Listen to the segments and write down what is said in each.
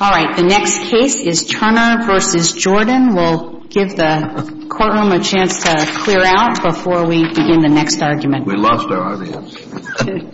All right, the next case is Turner v. Jordan. We'll give the courtroom a chance to clear out before we begin the next argument. We lost our audience.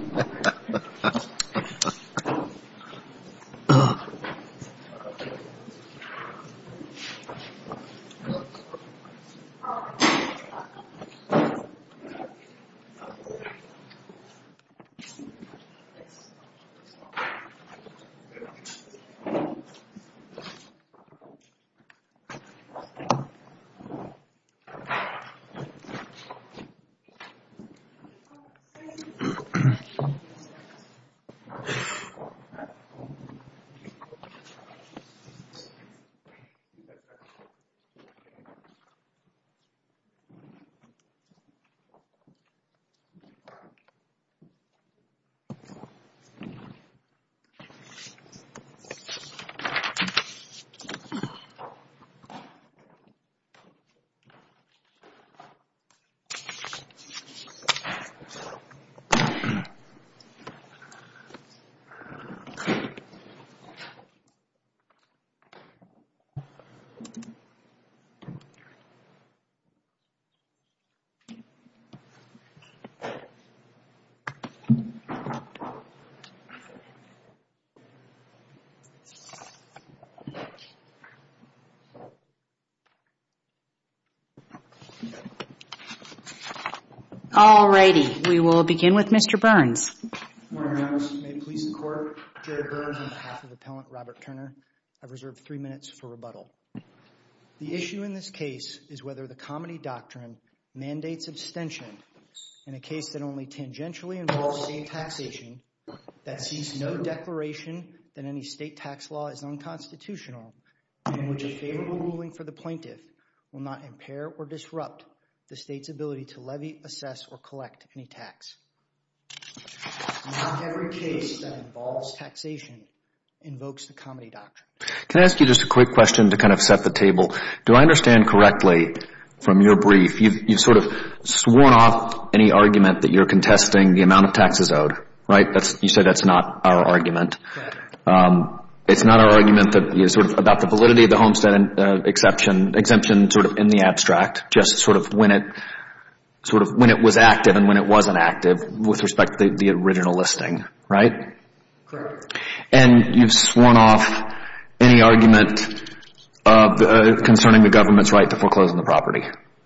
We will begin with Mr. Burns. Good morning, Your Honor. May it please the Court, Jerry Burns on behalf of Appellant Robert Turner, I've reserved three minutes for rebuttal. The issue in this case is whether the Comity Doctrine mandates abstention in a case that only tangentially involves state taxation, that sees no declaration that any state tax law is unconstitutional, in which a favorable ruling for the plaintiff will not impair or disrupt the state's ability to levy, assess, or collect any tax. Not every case that involves taxation invokes the Comity Doctrine. Can I ask you just a quick question to kind of set the table? Do I understand correctly from your brief, you've sort of sworn off any argument that you're contesting the amount of taxes owed, right? You said that's not our argument. It's not our argument about the validity of the Homestead Exemption sort of in the abstract, just sort of when it was active and when it wasn't active with respect to the original listing, right? Correct. And you've sworn off any argument concerning the government's right to foreclose on the property.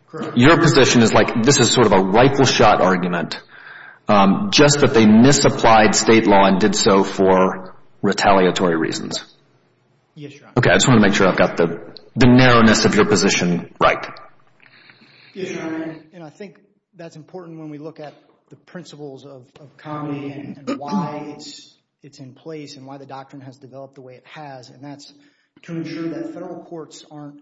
Correct. Your position is like this is sort of a rightful shot argument, just that they misapplied state law and did so for retaliatory reasons. Yes, Your Honor. Okay, I just want to make sure I've got the narrowness of your position right. Yes, Your Honor. And I think that's important when we look at the principles of Comity and why it's in place and why the doctrine has developed the way it has, and that's to ensure that federal courts aren't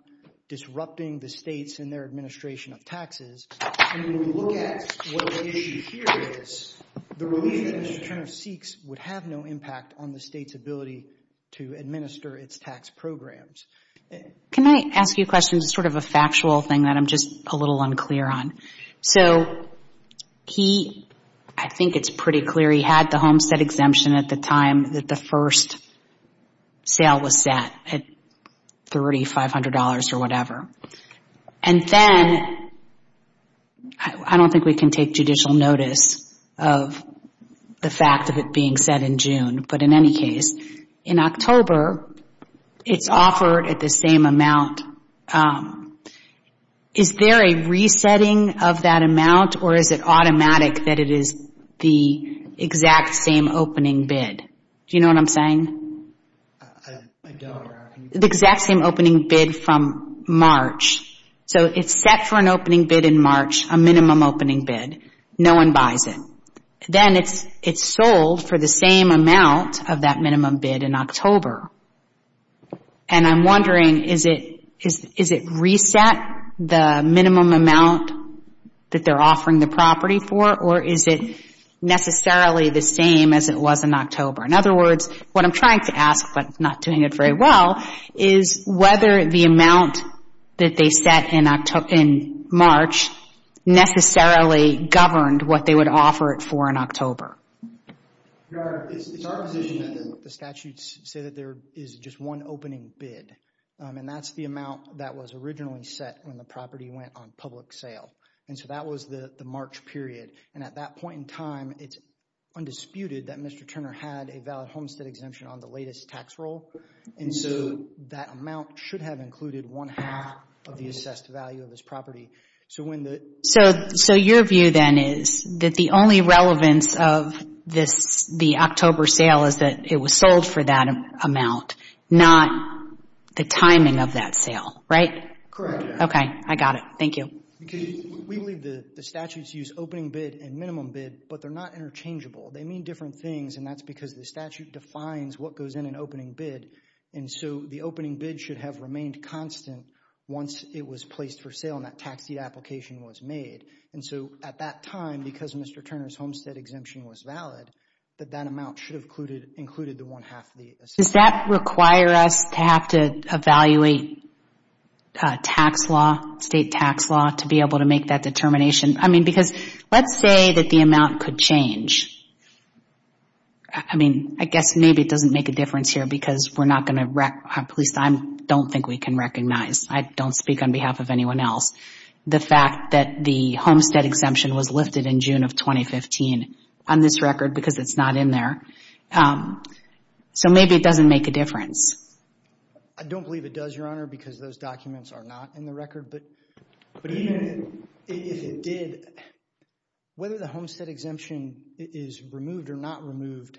disrupting the states in their administration of taxes. And when we look at what the issue here is, the relief that Mr. Turner seeks would have no impact on the state's ability to administer its tax programs. Can I ask you a question that's sort of a factual thing that I'm just a little unclear on? So he, I think it's pretty clear he had the Homestead Exemption at the time that the first sale was set at $3,500 or whatever. And then, I don't think we can take judicial notice of the fact of it being set in June. But in any case, in October, it's offered at the same amount. Is there a resetting of that amount or is it automatic that it is the exact same opening bid? Do you know what I'm saying? I don't, Your Honor. The exact same opening bid from March. So it's set for an opening bid in March, a minimum opening bid. No one buys it. Then it's sold for the same amount of that minimum bid in October. And I'm wondering, is it reset, the minimum amount that they're offering the property for, or is it necessarily the same as it was in October? In other words, what I'm trying to ask, but not doing it very well, is whether the amount that they set in March necessarily governed what they would offer it for in October. Your Honor, it's our position that the statutes say that there is just one opening bid. And that's the amount that was originally set when the property went on public sale. And so that was the March period. And at that point in time, it's undisputed that Mr. Turner had a valid homestead exemption on the latest tax roll. And so that amount should have included one-half of the assessed value of his property. So your view then is that the only relevance of the October sale is that it was sold for that amount, not the timing of that sale, right? Correct. Okay, I got it. Thank you. We believe the statutes use opening bid and minimum bid, but they're not interchangeable. They mean different things, and that's because the statute defines what goes in an opening bid. And so the opening bid should have remained constant once it was placed for sale and that tax deed application was made. And so at that time, because Mr. Turner's homestead exemption was valid, that that amount should have included the one-half of the assessed value. Does that require us to have to evaluate tax law, state tax law, to be able to make that I mean, I guess maybe it doesn't make a difference here because we're not going to, at least I don't think we can recognize, I don't speak on behalf of anyone else, the fact that the homestead exemption was lifted in June of 2015 on this record because it's not in there. So maybe it doesn't make a difference. I don't believe it does, Your Honor, because those documents are not in the record. But even if it did, whether the homestead exemption is removed or not removed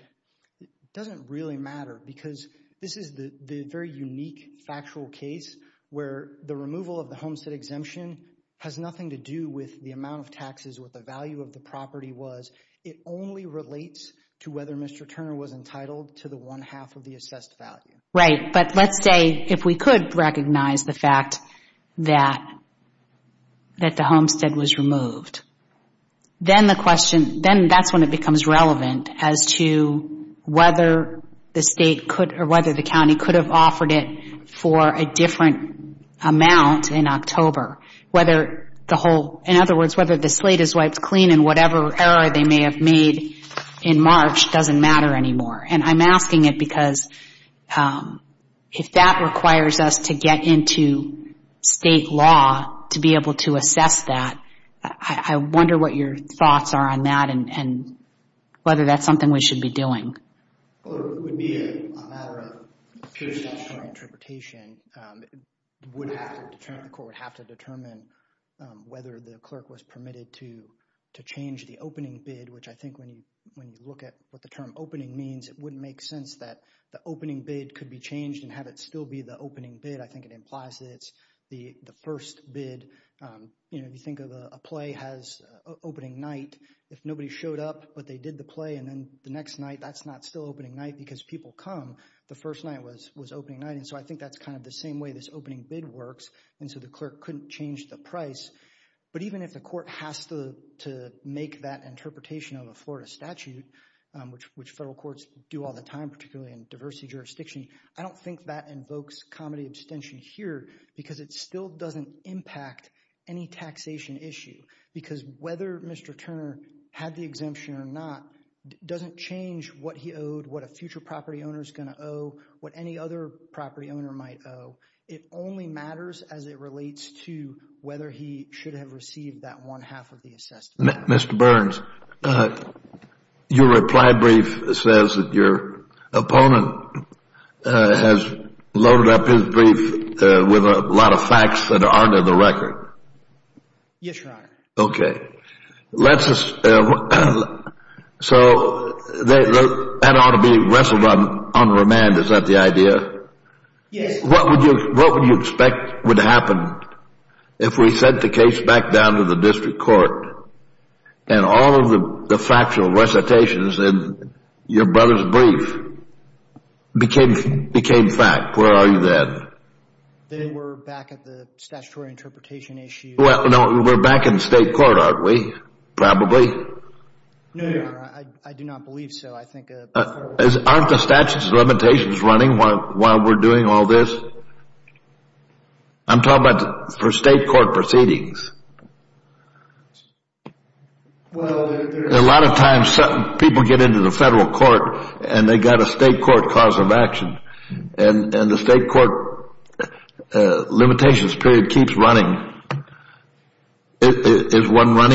doesn't really matter because this is the very unique factual case where the removal of the homestead exemption has nothing to do with the amount of taxes, what the value of the property was. It only relates to whether Mr. Turner was entitled to the one-half of the assessed value. Right, but let's say if we could recognize the fact that the homestead was removed, then the question, then that's when it becomes relevant as to whether the state could or whether the county could have offered it for a different amount in October. Whether the whole, in other words, whether the slate is wiped clean in whatever error they may have made in March doesn't matter anymore. And I'm asking it because if that requires us to get into state law to be able to assess that, I wonder what your thoughts are on that and whether that's something we should be doing. Well, it would be a matter of peer-to-peer interpretation. The court would have to determine whether the clerk was permitted to change the opening bid, which I think when you look at what the term opening means, it wouldn't make sense that the opening bid could be changed and have it still be the opening bid. I think it implies that it's the first bid. You know, if you think of a play has opening night, if nobody showed up but they did the play and then the next night, that's not still opening night because people come, the first night was opening night. And so I think that's kind of the same way this opening bid works. And so the clerk couldn't change the price. But even if the court has to make that interpretation of a Florida statute, which federal courts do all the time, particularly in diversity jurisdiction, I don't think that invokes comedy abstention here because it still doesn't impact any taxation issue. Because whether Mr. Turner had the exemption or not doesn't change what he owed, what a future property owner is going to owe, what any other property owner might owe. It only matters as it relates to whether he should have received that one half of the assessed value. Mr. Burns, your reply brief says that your opponent has loaded up his brief with a lot of facts that aren't in the record. Yes, Your Honor. Okay. So that ought to be wrestled on remand. Is that the idea? Yes. What would you expect would happen if we sent the case back down to the district court and all of the factual recitations in your brother's brief became fact? Where are you then? They were back at the statutory interpretation issue. Well, no, we're back in state court, aren't we? Probably? No, Your Honor. I do not believe so. I think a federal court... Aren't the statute's limitations running while we're doing all this? I'm talking about for state court proceedings. A lot of times people get into the federal court and they've got a state court cause of action, and the state court limitations period keeps running. Is No,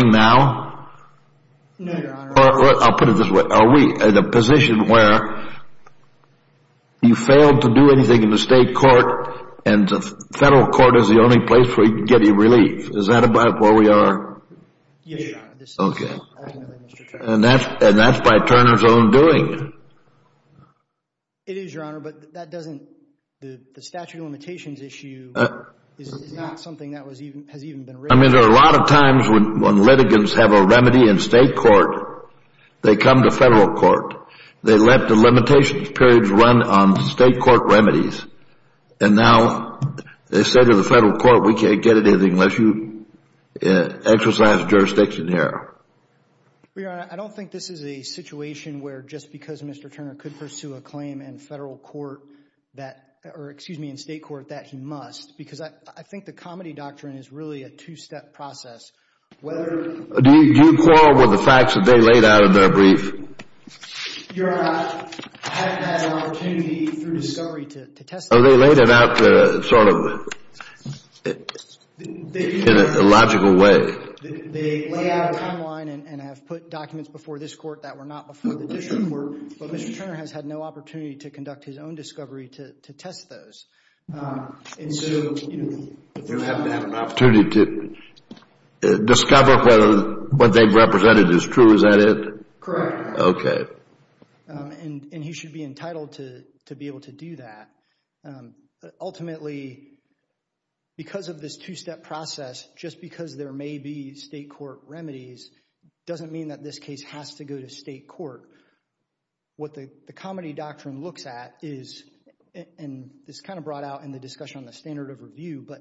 Your Honor. I'll put it this way. Are we in a position where you failed to do anything in the state court and the federal court is the only place where you can get any relief? Is that about where we are? Yes, Your Honor. Okay. And that's by Turner's own doing. It is, Your Honor, but that doesn't... The statute of limitations issue is not something that has even been raised. I mean, there are a lot of times when litigants have a remedy in state court, they come to federal court, they let the limitations period run on state court remedies, and now they say to the federal court, we can't get anything unless you exercise jurisdiction here. Well, Your Honor, I don't think this is a situation where just because Mr. Turner could pursue a claim in federal court that, or excuse me, in state court, that he must, because I think the comedy doctrine is really a two-step process. Do you quarrel with the facts that they laid out in their brief? Your Honor, I haven't had an opportunity through discovery to test that. Oh, they laid it out sort of in a logical way. They lay out a timeline and have put documents before this court that were not before the district court, but Mr. Turner has had no opportunity to conduct his own discovery to have an opportunity to discover whether what they've represented is true. Is that it? Correct. Okay. And he should be entitled to be able to do that. Ultimately, because of this two-step process, just because there may be state court remedies, doesn't mean that this case has to go to state court. What the comedy doctrine looks at is, and it's kind of brought out in the discussion on the standard of review, but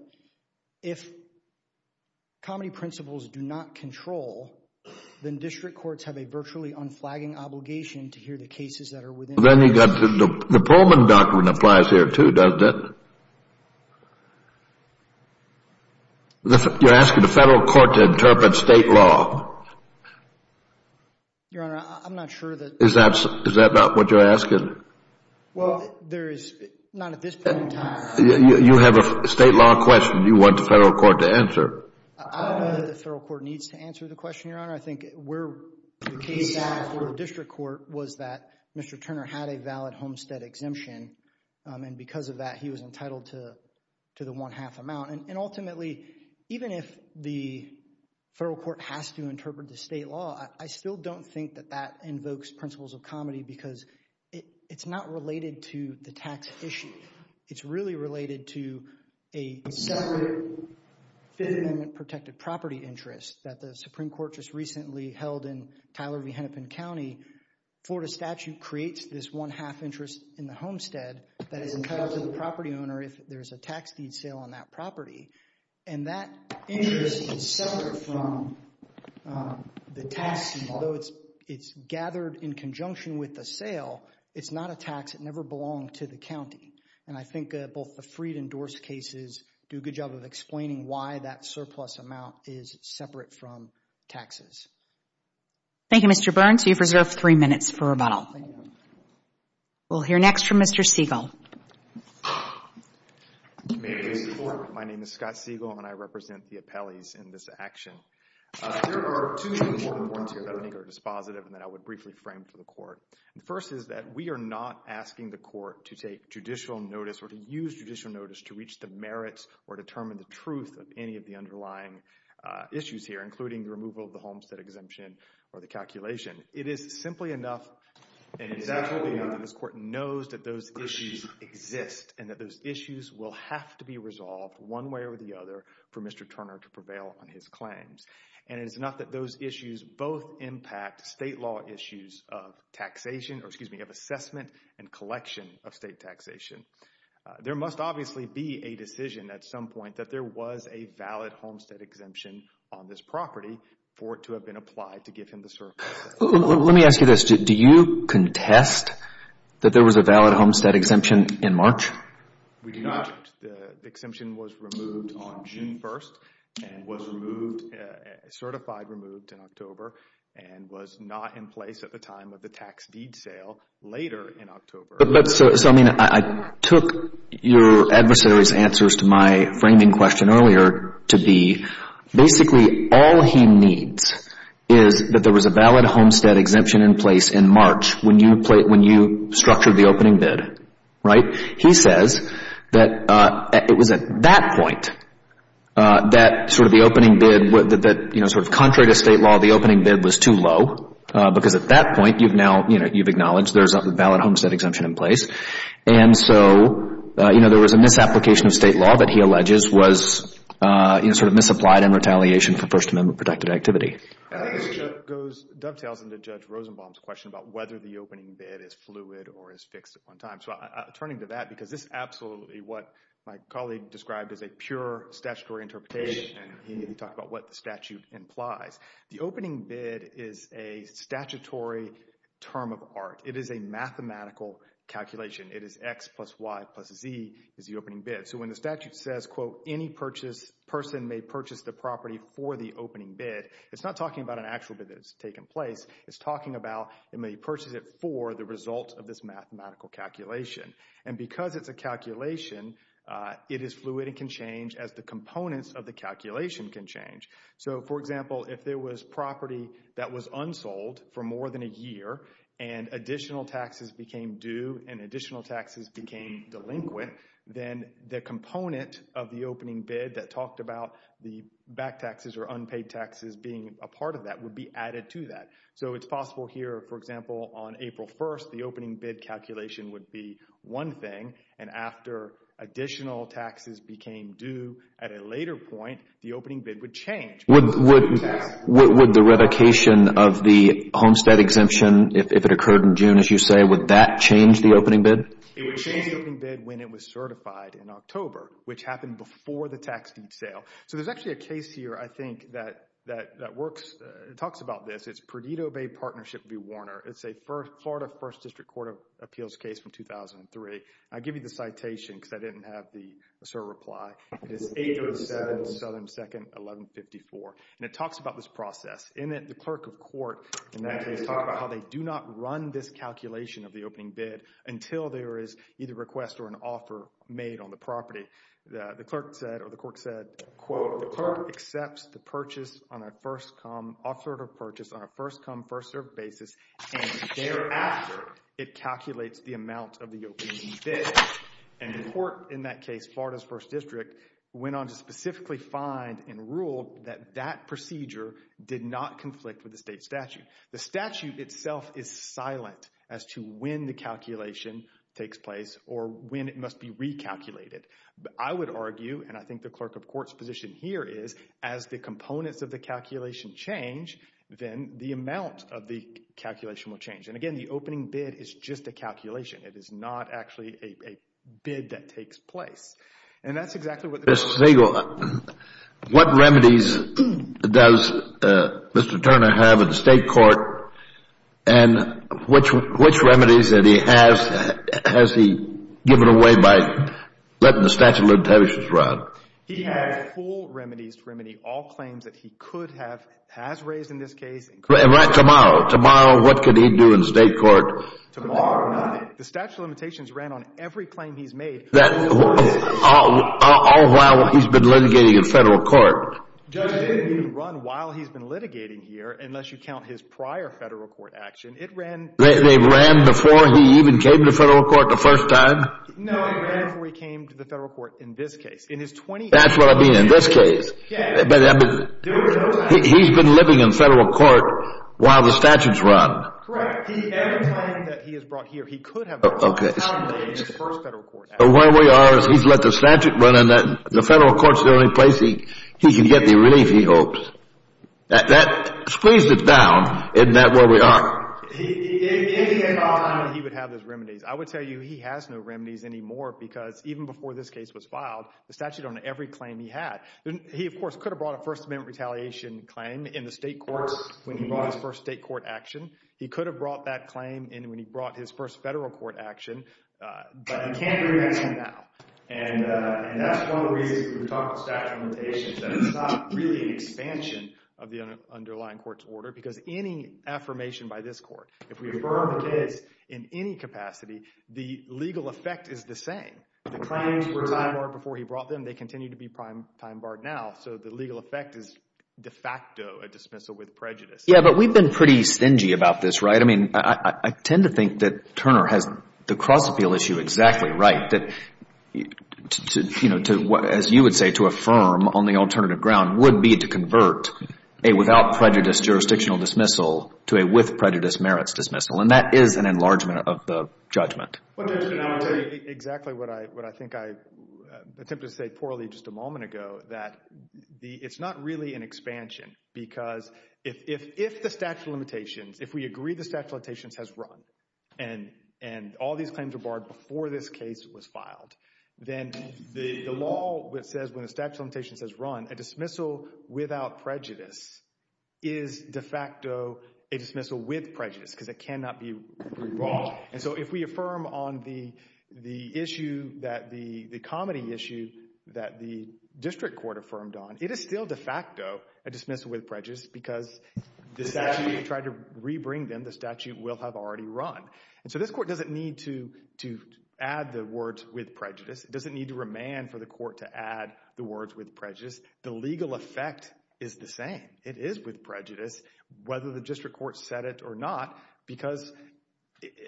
if comedy principles do not control, then district courts have a virtually unflagging obligation to hear the cases that are within... Then you've got the Perelman doctrine applies here too, doesn't it? You're asking the federal court to interpret state law. Your Honor, I'm not sure that... Is that not what you're asking? You have a state law question you want the federal court to answer. I don't know that the federal court needs to answer the question, Your Honor. I think where the case after the district court was that Mr. Turner had a valid homestead exemption, and because of that, he was entitled to the one-half amount. Ultimately, even if the federal court has to interpret the state law, I still don't think that that invokes principles of comedy because it's not related to the tax issue. It's really related to a separate Fifth Amendment protected property interest that the Supreme Court just recently held in Tyler v. Hennepin County. Florida statute creates this one-half interest in the homestead that is entitled to the property owner if there's a tax deed sale on that property, and that interest is separate from the tax deed. Although it's gathered in conjunction with the sale, it's not a tax. It never belonged to the county, and I think both the Freed and Dorse cases do a good job of explaining why that surplus amount is separate from taxes. Thank you, Mr. Burns. You've reserved three minutes for rebuttal. We'll hear next from Mr. Siegel. May it please the Court. My name is Scott Siegel, and I represent the appellees in this action. There are two important points here that I think are dispositive and that I would briefly frame for the Court. The first is that we are not asking the Court to take judicial notice or to use judicial notice to reach the merits or determine the truth of any of the underlying issues here, including the removal of the homestead exemption or the calculation. It is simply enough and exactly enough that this Court knows that those issues exist and that those issues will have to be resolved one way or the other for Mr. Turner to prevail on his claims. And it is enough that those issues both impact state law issues of taxation, or excuse me, of assessment and collection of state taxation. There must obviously be a decision at some point that there was a valid homestead exemption on this property for it to have been applied to give him the surplus. Let me ask you this. Do you contest that there was a valid homestead exemption in March? We do not. The exemption was removed on June 1st and was removed, certified removed in October and was not in place at the time of the tax deed sale later in October. So, I mean, I took your adversary's answers to my framing question earlier to be basically all he needs is that there was a valid homestead exemption in place in March when you structured the opening bid, right? He says that it was at that point that sort of the opening bid, you know, sort of contrary to state law, the opening bid was too low because at that point you've now, you know, you've acknowledged there's a valid homestead exemption in place. And so, you know, there was a misapplication of state law that he alleges was, you know, sort of misapplied in retaliation for First Amendment protected activity. This goes, dovetails into Judge Rosenbaum's question about whether the opening bid is fluid or is fixed at one time. So, turning to that because this is absolutely what my colleague described as a pure statutory interpretation and he talked about what the statute implies. The opening bid is a statutory term of art. It is a mathematical calculation. It is X plus Y plus Z is the opening bid. So, when the statute says, quote, any purchase, person may purchase the property for the opening bid, it's not talking about an actual bid that has taken place. It's talking about they may purchase it for the result of this mathematical calculation. And because it's a calculation, it is fluid and can change as the components of the calculation can change. So, for example, if there was property that was unsold for more than a year and additional taxes became due and additional taxes became delinquent, then the component of the opening bid that talked about the back taxes or unpaid taxes being a part of that would be added to that. So, it's possible here, for example, on April 1st, the opening bid calculation would be one thing and after additional taxes became due at a later point, the opening bid would change. Would the revocation of the homestead exemption, if it occurred in June, as you say, would that change the opening bid? It would change the opening bid when it was certified in October, which happened before the tax due sale. So, there's actually a case here, I think, that works. It talks about this. It's Perdido Bay Partnership v. Warner. It's a Florida 1st District Court of Appeals case from 2003. I give you the citation because I didn't have the certified reply. It is 8-07 Southern 2nd, 1154. And it talks about this process. In it, the clerk of court in that case talked about how they do not run this calculation of the opening bid until there is either a request or an offer made on the property. The clerk said, or the court said, quote, the clerk accepts the purchase on a first come, first served basis, and thereafter, it calculates the amount of the opening bid. And the court in that case, Florida's 1st District, went on to specifically find and rule that that procedure did not conflict with the state statute. The statute itself is silent as to when the calculation takes place or when it must be recalculated. I would argue, and I think the clerk of court's position here is, as the components of the the amount of the calculation will change. And again, the opening bid is just a calculation. It is not actually a bid that takes place. And that's exactly what the clerk said. Mr. Siegel, what remedies does Mr. Turner have at the state court? And which remedies has he given away by letting the statute of limitations run? He has full remedies to remedy all claims that he could have, has raised in this case. And right tomorrow? Tomorrow, what could he do in state court? Tomorrow, nothing. The statute of limitations ran on every claim he's made. All while he's been litigating in federal court. It didn't even run while he's been litigating here, unless you count his prior federal court action. They ran before he even came to federal court the first time? No, it ran before he came to the federal court in this case. That's what I mean, in this case. He's been living in federal court while the statute's run. Correct. Every claim that he has brought here, he could have brought in the first federal court action. But where we are is he's let the statute run, and the federal court's the only place he can get the relief he hopes. That squeezed it down. Isn't that where we are? If he had the time, he would have those remedies. He could have brought the statute on every claim he had. He, of course, could have brought a First Amendment retaliation claim in the state courts when he brought his first state court action. He could have brought that claim when he brought his first federal court action. But he can't do that now. And that's one of the reasons we talk about statute of limitations, that it's not really an expansion of the underlying court's order. Because any affirmation by this court, if we affirm it is in any capacity, the legal effect is the same. The claims were time-barred before he brought them. They continue to be time-barred now. So the legal effect is de facto a dismissal with prejudice. Yeah, but we've been pretty stingy about this, right? I tend to think that Turner has the cross-appeal issue exactly right. As you would say, to affirm on the alternative ground would be to convert a without prejudice jurisdictional dismissal to a with prejudice merits dismissal. And that is an enlargement of the judgment. Exactly what I think I attempted to say poorly just a moment ago. That it's not really an expansion. Because if the statute of limitations, if we agree the statute of limitations has run. And all these claims were barred before this case was filed. Then the law says when the statute of limitations has run, a dismissal without prejudice is de facto a dismissal with prejudice. Because it cannot be brought. And so if we affirm on the issue that the comedy issue that the district court affirmed on. It is still de facto a dismissal with prejudice. Because the statute tried to re-bring them, the statute will have already run. And so this court doesn't need to add the words with prejudice. It doesn't need to remand for the court to add the words with prejudice. The legal effect is the same. It is with prejudice. Whether the district court said it or not. Because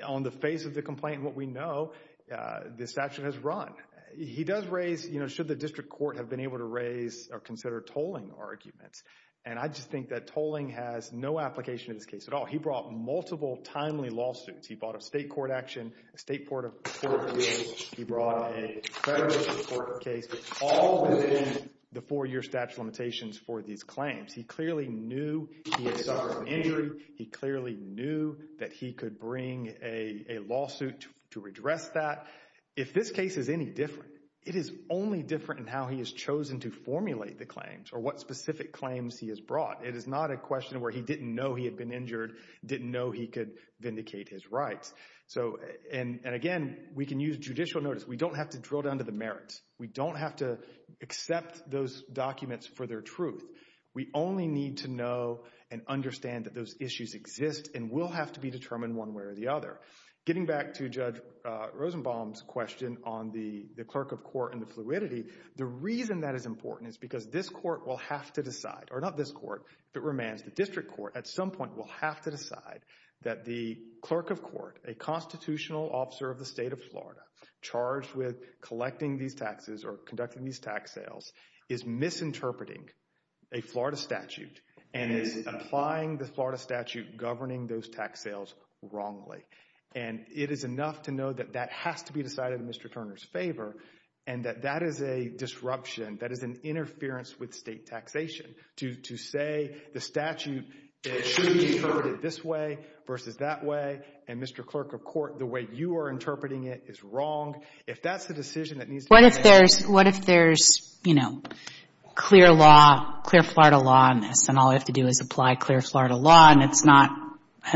on the face of the complaint, what we know, the statute has run. He does raise, should the district court have been able to raise or consider tolling arguments. And I just think that tolling has no application in this case at all. He brought multiple timely lawsuits. He brought a state court action, a state court of appeals. He brought a federal court case. All within the four year statute of limitations for these claims. He clearly knew he had suffered an injury. He clearly knew that he could bring a lawsuit to redress that. If this case is any different, it is only different in how he has chosen to formulate the claims. Or what specific claims he has brought. It is not a question where he didn't know he had been injured. Didn't know he could vindicate his rights. And again, we can use judicial notice. We don't have to drill down to the merits. We don't have to accept those documents for their truth. We only need to know and understand that those issues exist. And will have to be determined one way or the other. Getting back to Judge Rosenbaum's question on the clerk of court and the fluidity. The reason that is important is because this court will have to decide. Or not this court, but remains the district court at some point will have to decide. That the clerk of court, a constitutional officer of the state of Florida. Charged with collecting these taxes or conducting these tax sales. Is misinterpreting a Florida statute. And is applying the Florida statute governing those tax sales wrongly. And it is enough to know that that has to be decided in Mr. Turner's favor. And that that is a disruption. That is an interference with state taxation. To say the statute should be interpreted this way versus that way. And Mr. Clerk of Court, the way you are interpreting it is wrong. If that is the decision that needs to be made. What if there is clear law, clear Florida law on this. And all I have to do is apply clear Florida law. And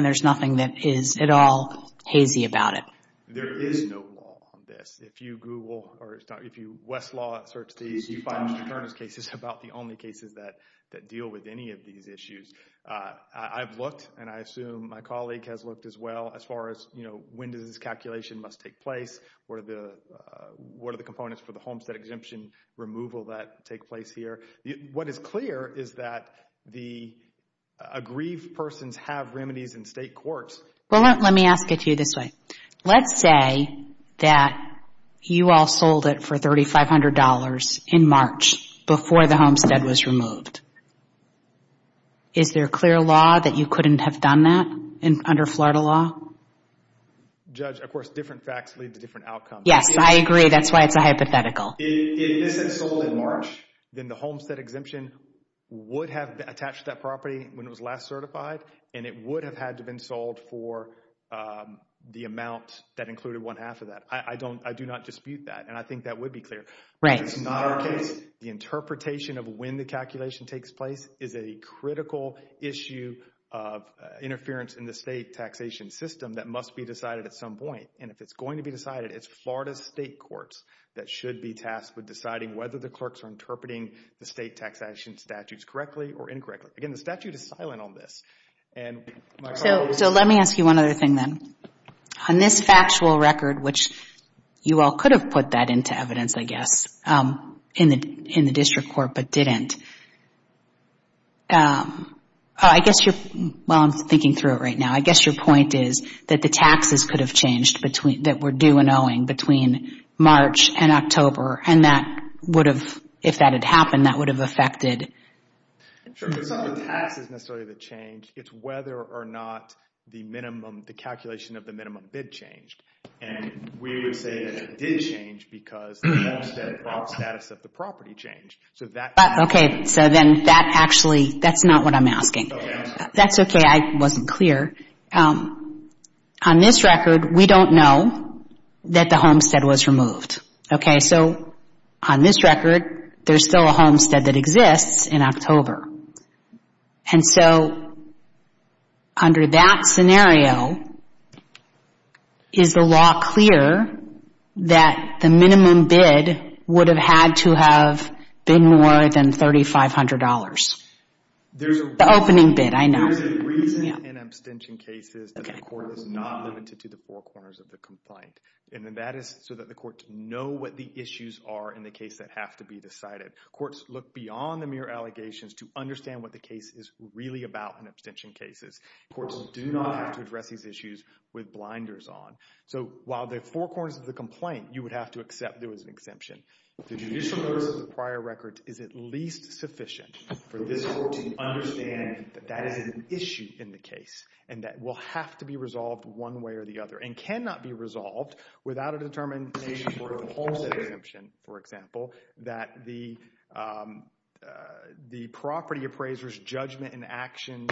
there is nothing that is at all hazy about it. There is no law on this. If you Google or if you Westlaw search these. You find Mr. Turner's cases about the only cases that deal with any of these issues. I have looked and I assume my colleague has looked as well. As far as when does this calculation must take place. What are the components for the homestead exemption removal that take place here. What is clear is that the aggrieved persons have remedies in state courts. Well let me ask it to you this way. Let's say that you all sold it for $3,500 in March. Before the homestead was removed. Is there clear law that you couldn't have done that under Florida law? Judge, of course different facts lead to different outcomes. Yes, I agree. That's why it's a hypothetical. If this had sold in March. Then the homestead exemption would have attached that property when it was last certified. And it would have had to been sold for the amount that included one half of that. I do not dispute that. And I think that would be clear. Right. If it's not our case. The interpretation of when the calculation takes place. Is a critical issue of interference in the state taxation system. That must be decided at some point. And if it's going to be decided. It's Florida's state courts. That should be tasked with deciding whether the clerks are interpreting. The state taxation statutes correctly or incorrectly. Again the statute is silent on this. So let me ask you one other thing then. On this factual record. Which you all could have put that into evidence I guess. In the district court but didn't. I guess you're, well I'm thinking through it right now. I guess your point is that the taxes could have changed. That were due and owing between March and October. And that would have, if that had happened. That would have affected. It's not the taxes necessarily that changed. It's whether or not the minimum, the calculation of the minimum bid changed. And we would say that it did change. Because the homestead bond status of the property changed. So that. Okay. So then that actually. That's not what I'm asking. That's okay. I wasn't clear. On this record we don't know. That the homestead was removed. Okay so. On this record. There's still a homestead that exists in October. And so. Under that scenario. Is the law clear. That the minimum bid. Would have had to have. Been more than $3,500. The opening bid I know. There is a reason in abstention cases. That the court is not limited to the four corners of the complaint. And that is so that the court to know what the issues are. In the case that have to be decided. Courts look beyond the mere allegations. To understand what the case is really about in abstention cases. Courts do not have to address these issues. With blinders on. So while the four corners of the complaint. You would have to accept there was an exemption. The judicial notice of the prior record. Is at least sufficient. For this court to understand. That that is an issue in the case. And that will have to be resolved. One way or the other. And cannot be resolved. Without a determination for a homestead exemption. For example. That the property appraisers. Judgment and actions.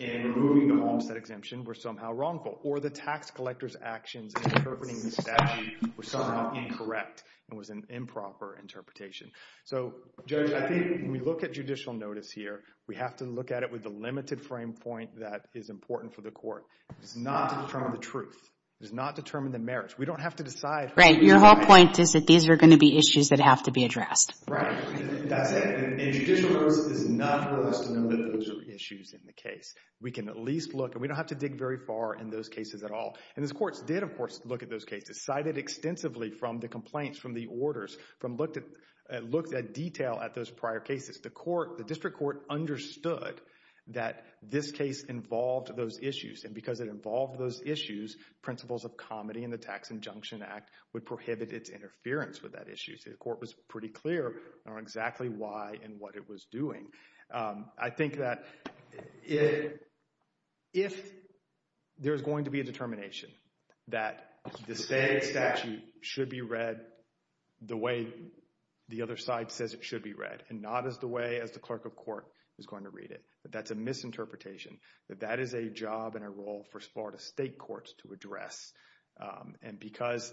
In removing the homestead exemption. Were somehow wrongful. Or the tax collectors actions. Interpreting the statute. Were somehow incorrect. And was an improper interpretation. So Judge. I think when we look at judicial notice here. We have to look at it with a limited frame point. That is important for the court. It does not determine the truth. It does not determine the merits. We don't have to decide. Right. Your whole point is that these are going to be issues that have to be addressed. Right. That's it. And judicial notice is not for us to know that those are issues in the case. We can at least look. And we don't have to dig very far in those cases at all. And the courts did of course look at those cases. Cited extensively from the complaints. From the orders. From looked at detail at those prior cases. The court. The district court understood. That this case involved those issues. And because it involved those issues. Principles of comedy in the tax injunction act. Would prohibit its interference with that issue. So the court was pretty clear. On exactly why and what it was doing. I think that. If. There's going to be a determination. That the state statute. Should be read. The way. The other side says it should be read. And not as the way as the clerk of court is going to read it. But that's a misinterpretation. That that is a job and a role for Florida state courts to address. And because.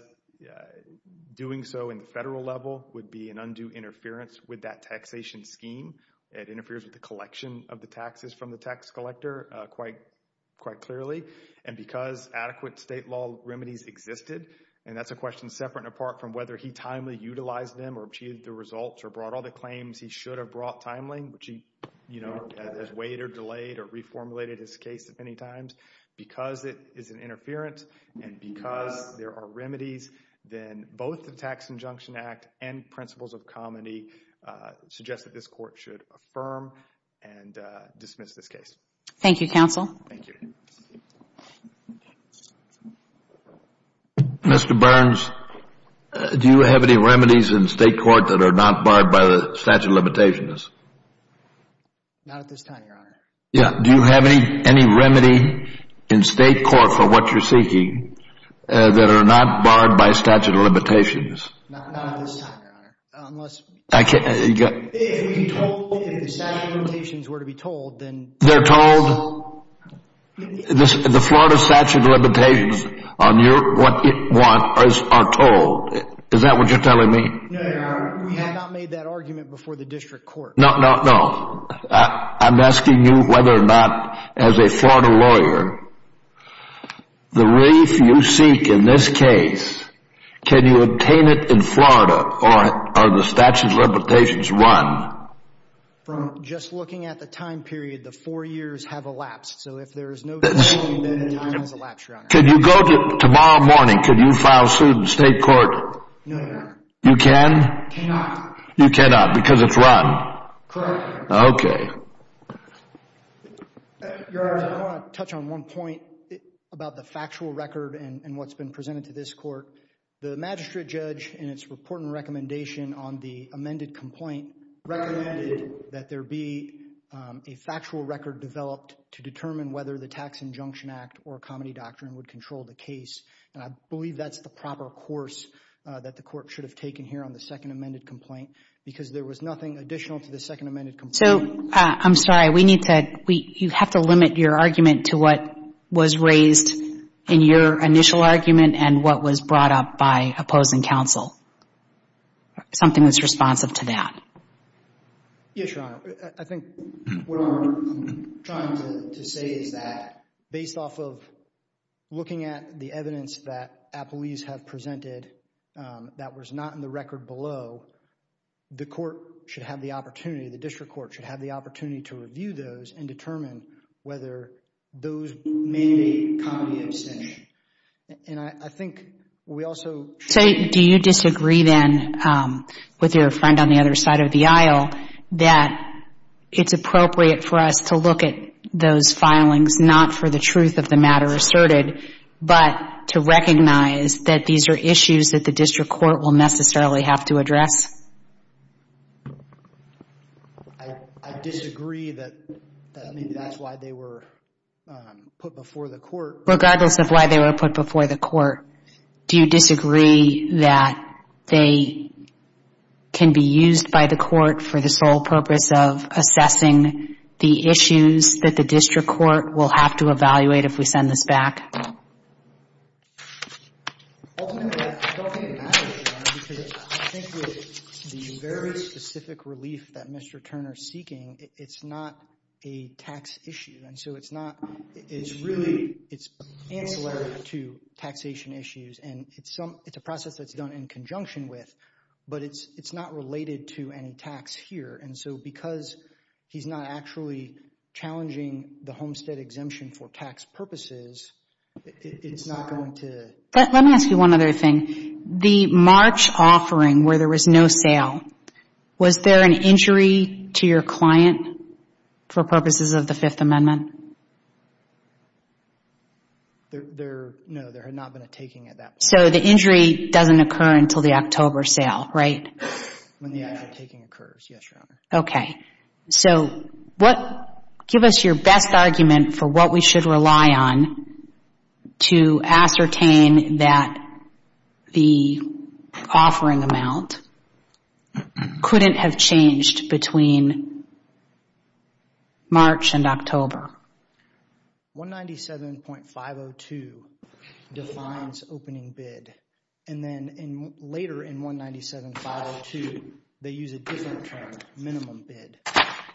Doing so in the federal level. Would be an undue interference. With that taxation scheme. It interferes with the collection of the taxes. From the tax collector. Quite clearly. And because adequate state law remedies existed. And that's a question separate and apart. From whether he timely utilized them. Or achieved the results. Or brought all the claims he should have brought timely. Which he has weighed or delayed. Or reformulated his case many times. Because it is an interference. And because there are remedies. Then both the tax injunction act. And principles of comedy. Suggest that this court should affirm. And dismiss this case. Thank you counsel. Thank you. Mr. Burns. Do you have any remedies in state court. That are not barred by the statute of limitations. Not at this time your honor. Yeah. Do you have any remedy. In state court. For what you're seeking. That are not barred by statute of limitations. Not at this time your honor. Unless. If the statute of limitations were to be told. They're told. The Florida statute of limitations. Are told. Is that what you're telling me. No your honor. We have not made that argument before the district court. No. I'm asking you whether or not. As a Florida lawyer. The relief you seek. In this case. Can you obtain it in Florida. Or are the statute of limitations run. From just looking at the time period. The four years have elapsed. So if there is no change. Then time has elapsed your honor. Could you go tomorrow morning. Could you file suit in state court. No your honor. You can. Cannot. You cannot. Because it's run. Correct. Okay. Your honor. I want to touch on one point. About the factual record. And what's been presented to this court. The magistrate judge. In it's report and recommendation. On the amended complaint. Recommended that there be. A factual record developed. To determine whether the tax injunction act. Or comedy doctrine would control the case. And I believe that's the proper course. That the court should have taken here. On the second amended complaint. Because there was nothing additional. To the second amended complaint. So I'm sorry. We need to. You have to limit your argument to what was raised. In your initial argument. And what was brought up by opposing counsel. Something that's responsive to that. Yes your honor. I think. What I'm trying to say is that. Based off of. Looking at the evidence that. Appellees have presented. That was not in the record below. The court should have the opportunity. The district court should have the opportunity. To review those. And determine whether those. Mandate comedy abstention. And I think. We also. Do you disagree then. With your friend on the other side of the aisle. That it's appropriate for us. To look at those filings. Not for the truth of the matter asserted. But to recognize. That these are issues that the district court. Will necessarily have to address. I disagree that. That's why they were. Put before the court. Regardless of why they were put before the court. Do you disagree that. They. Can be used by the court. For the sole purpose of assessing. The issues that the district court. Will have to evaluate. If we send this back. Ultimately. I don't think it matters. Your honor. I think with the very specific relief. That Mr. Turner is seeking. It's not a tax issue. And so it's not. It's really. Ancillary to taxation issues. And it's a process that's done in conjunction with. But it's not related. To any tax here. And so because he's not actually. Challenging the homestead exemption. For tax purposes. It's not going to. Let me ask you one other thing. The March offering. Where there was no sale. Was there an injury to your client. For purposes of the fifth amendment. There. No. There had not been a taking at that point. So the injury doesn't occur until the October sale. Right. When the actual taking occurs. Yes your honor. Okay. So what. Give us your best argument for what we should rely on. To ascertain that. The. Offering amount. Couldn't have changed. Between. March and October. 197.502. Defines opening bid. And then. Later in 197.502. They use a different term. Minimum bid.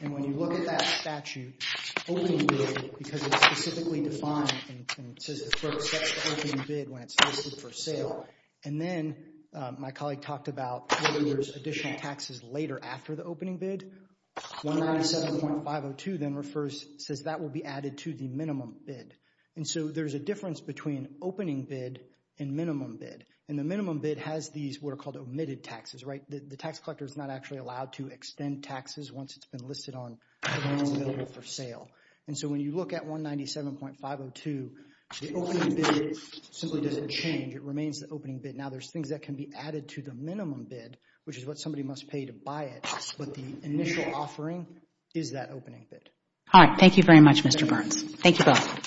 And when you look at that statute. Opening bid. Because it's specifically defined. And says the clerk sets the opening bid. When it's listed for sale. And then. My colleague talked about. Whether there's additional taxes later after the opening bid. 197.502 then refers. Says that will be added to the minimum bid. And so there's a difference between. Opening bid. And minimum bid. And the minimum bid has these. What are called omitted taxes. Right. The tax collector is not actually allowed to extend taxes. Once it's been listed on. For sale. And so when you look at 197.502. The opening bid. Simply doesn't change. It remains the opening bid. Now there's things that can be added to the minimum bid. Which is what somebody must pay to buy it. But the initial offering. Is that opening bid. All right. Thank you very much Mr. Burns. Thank you both.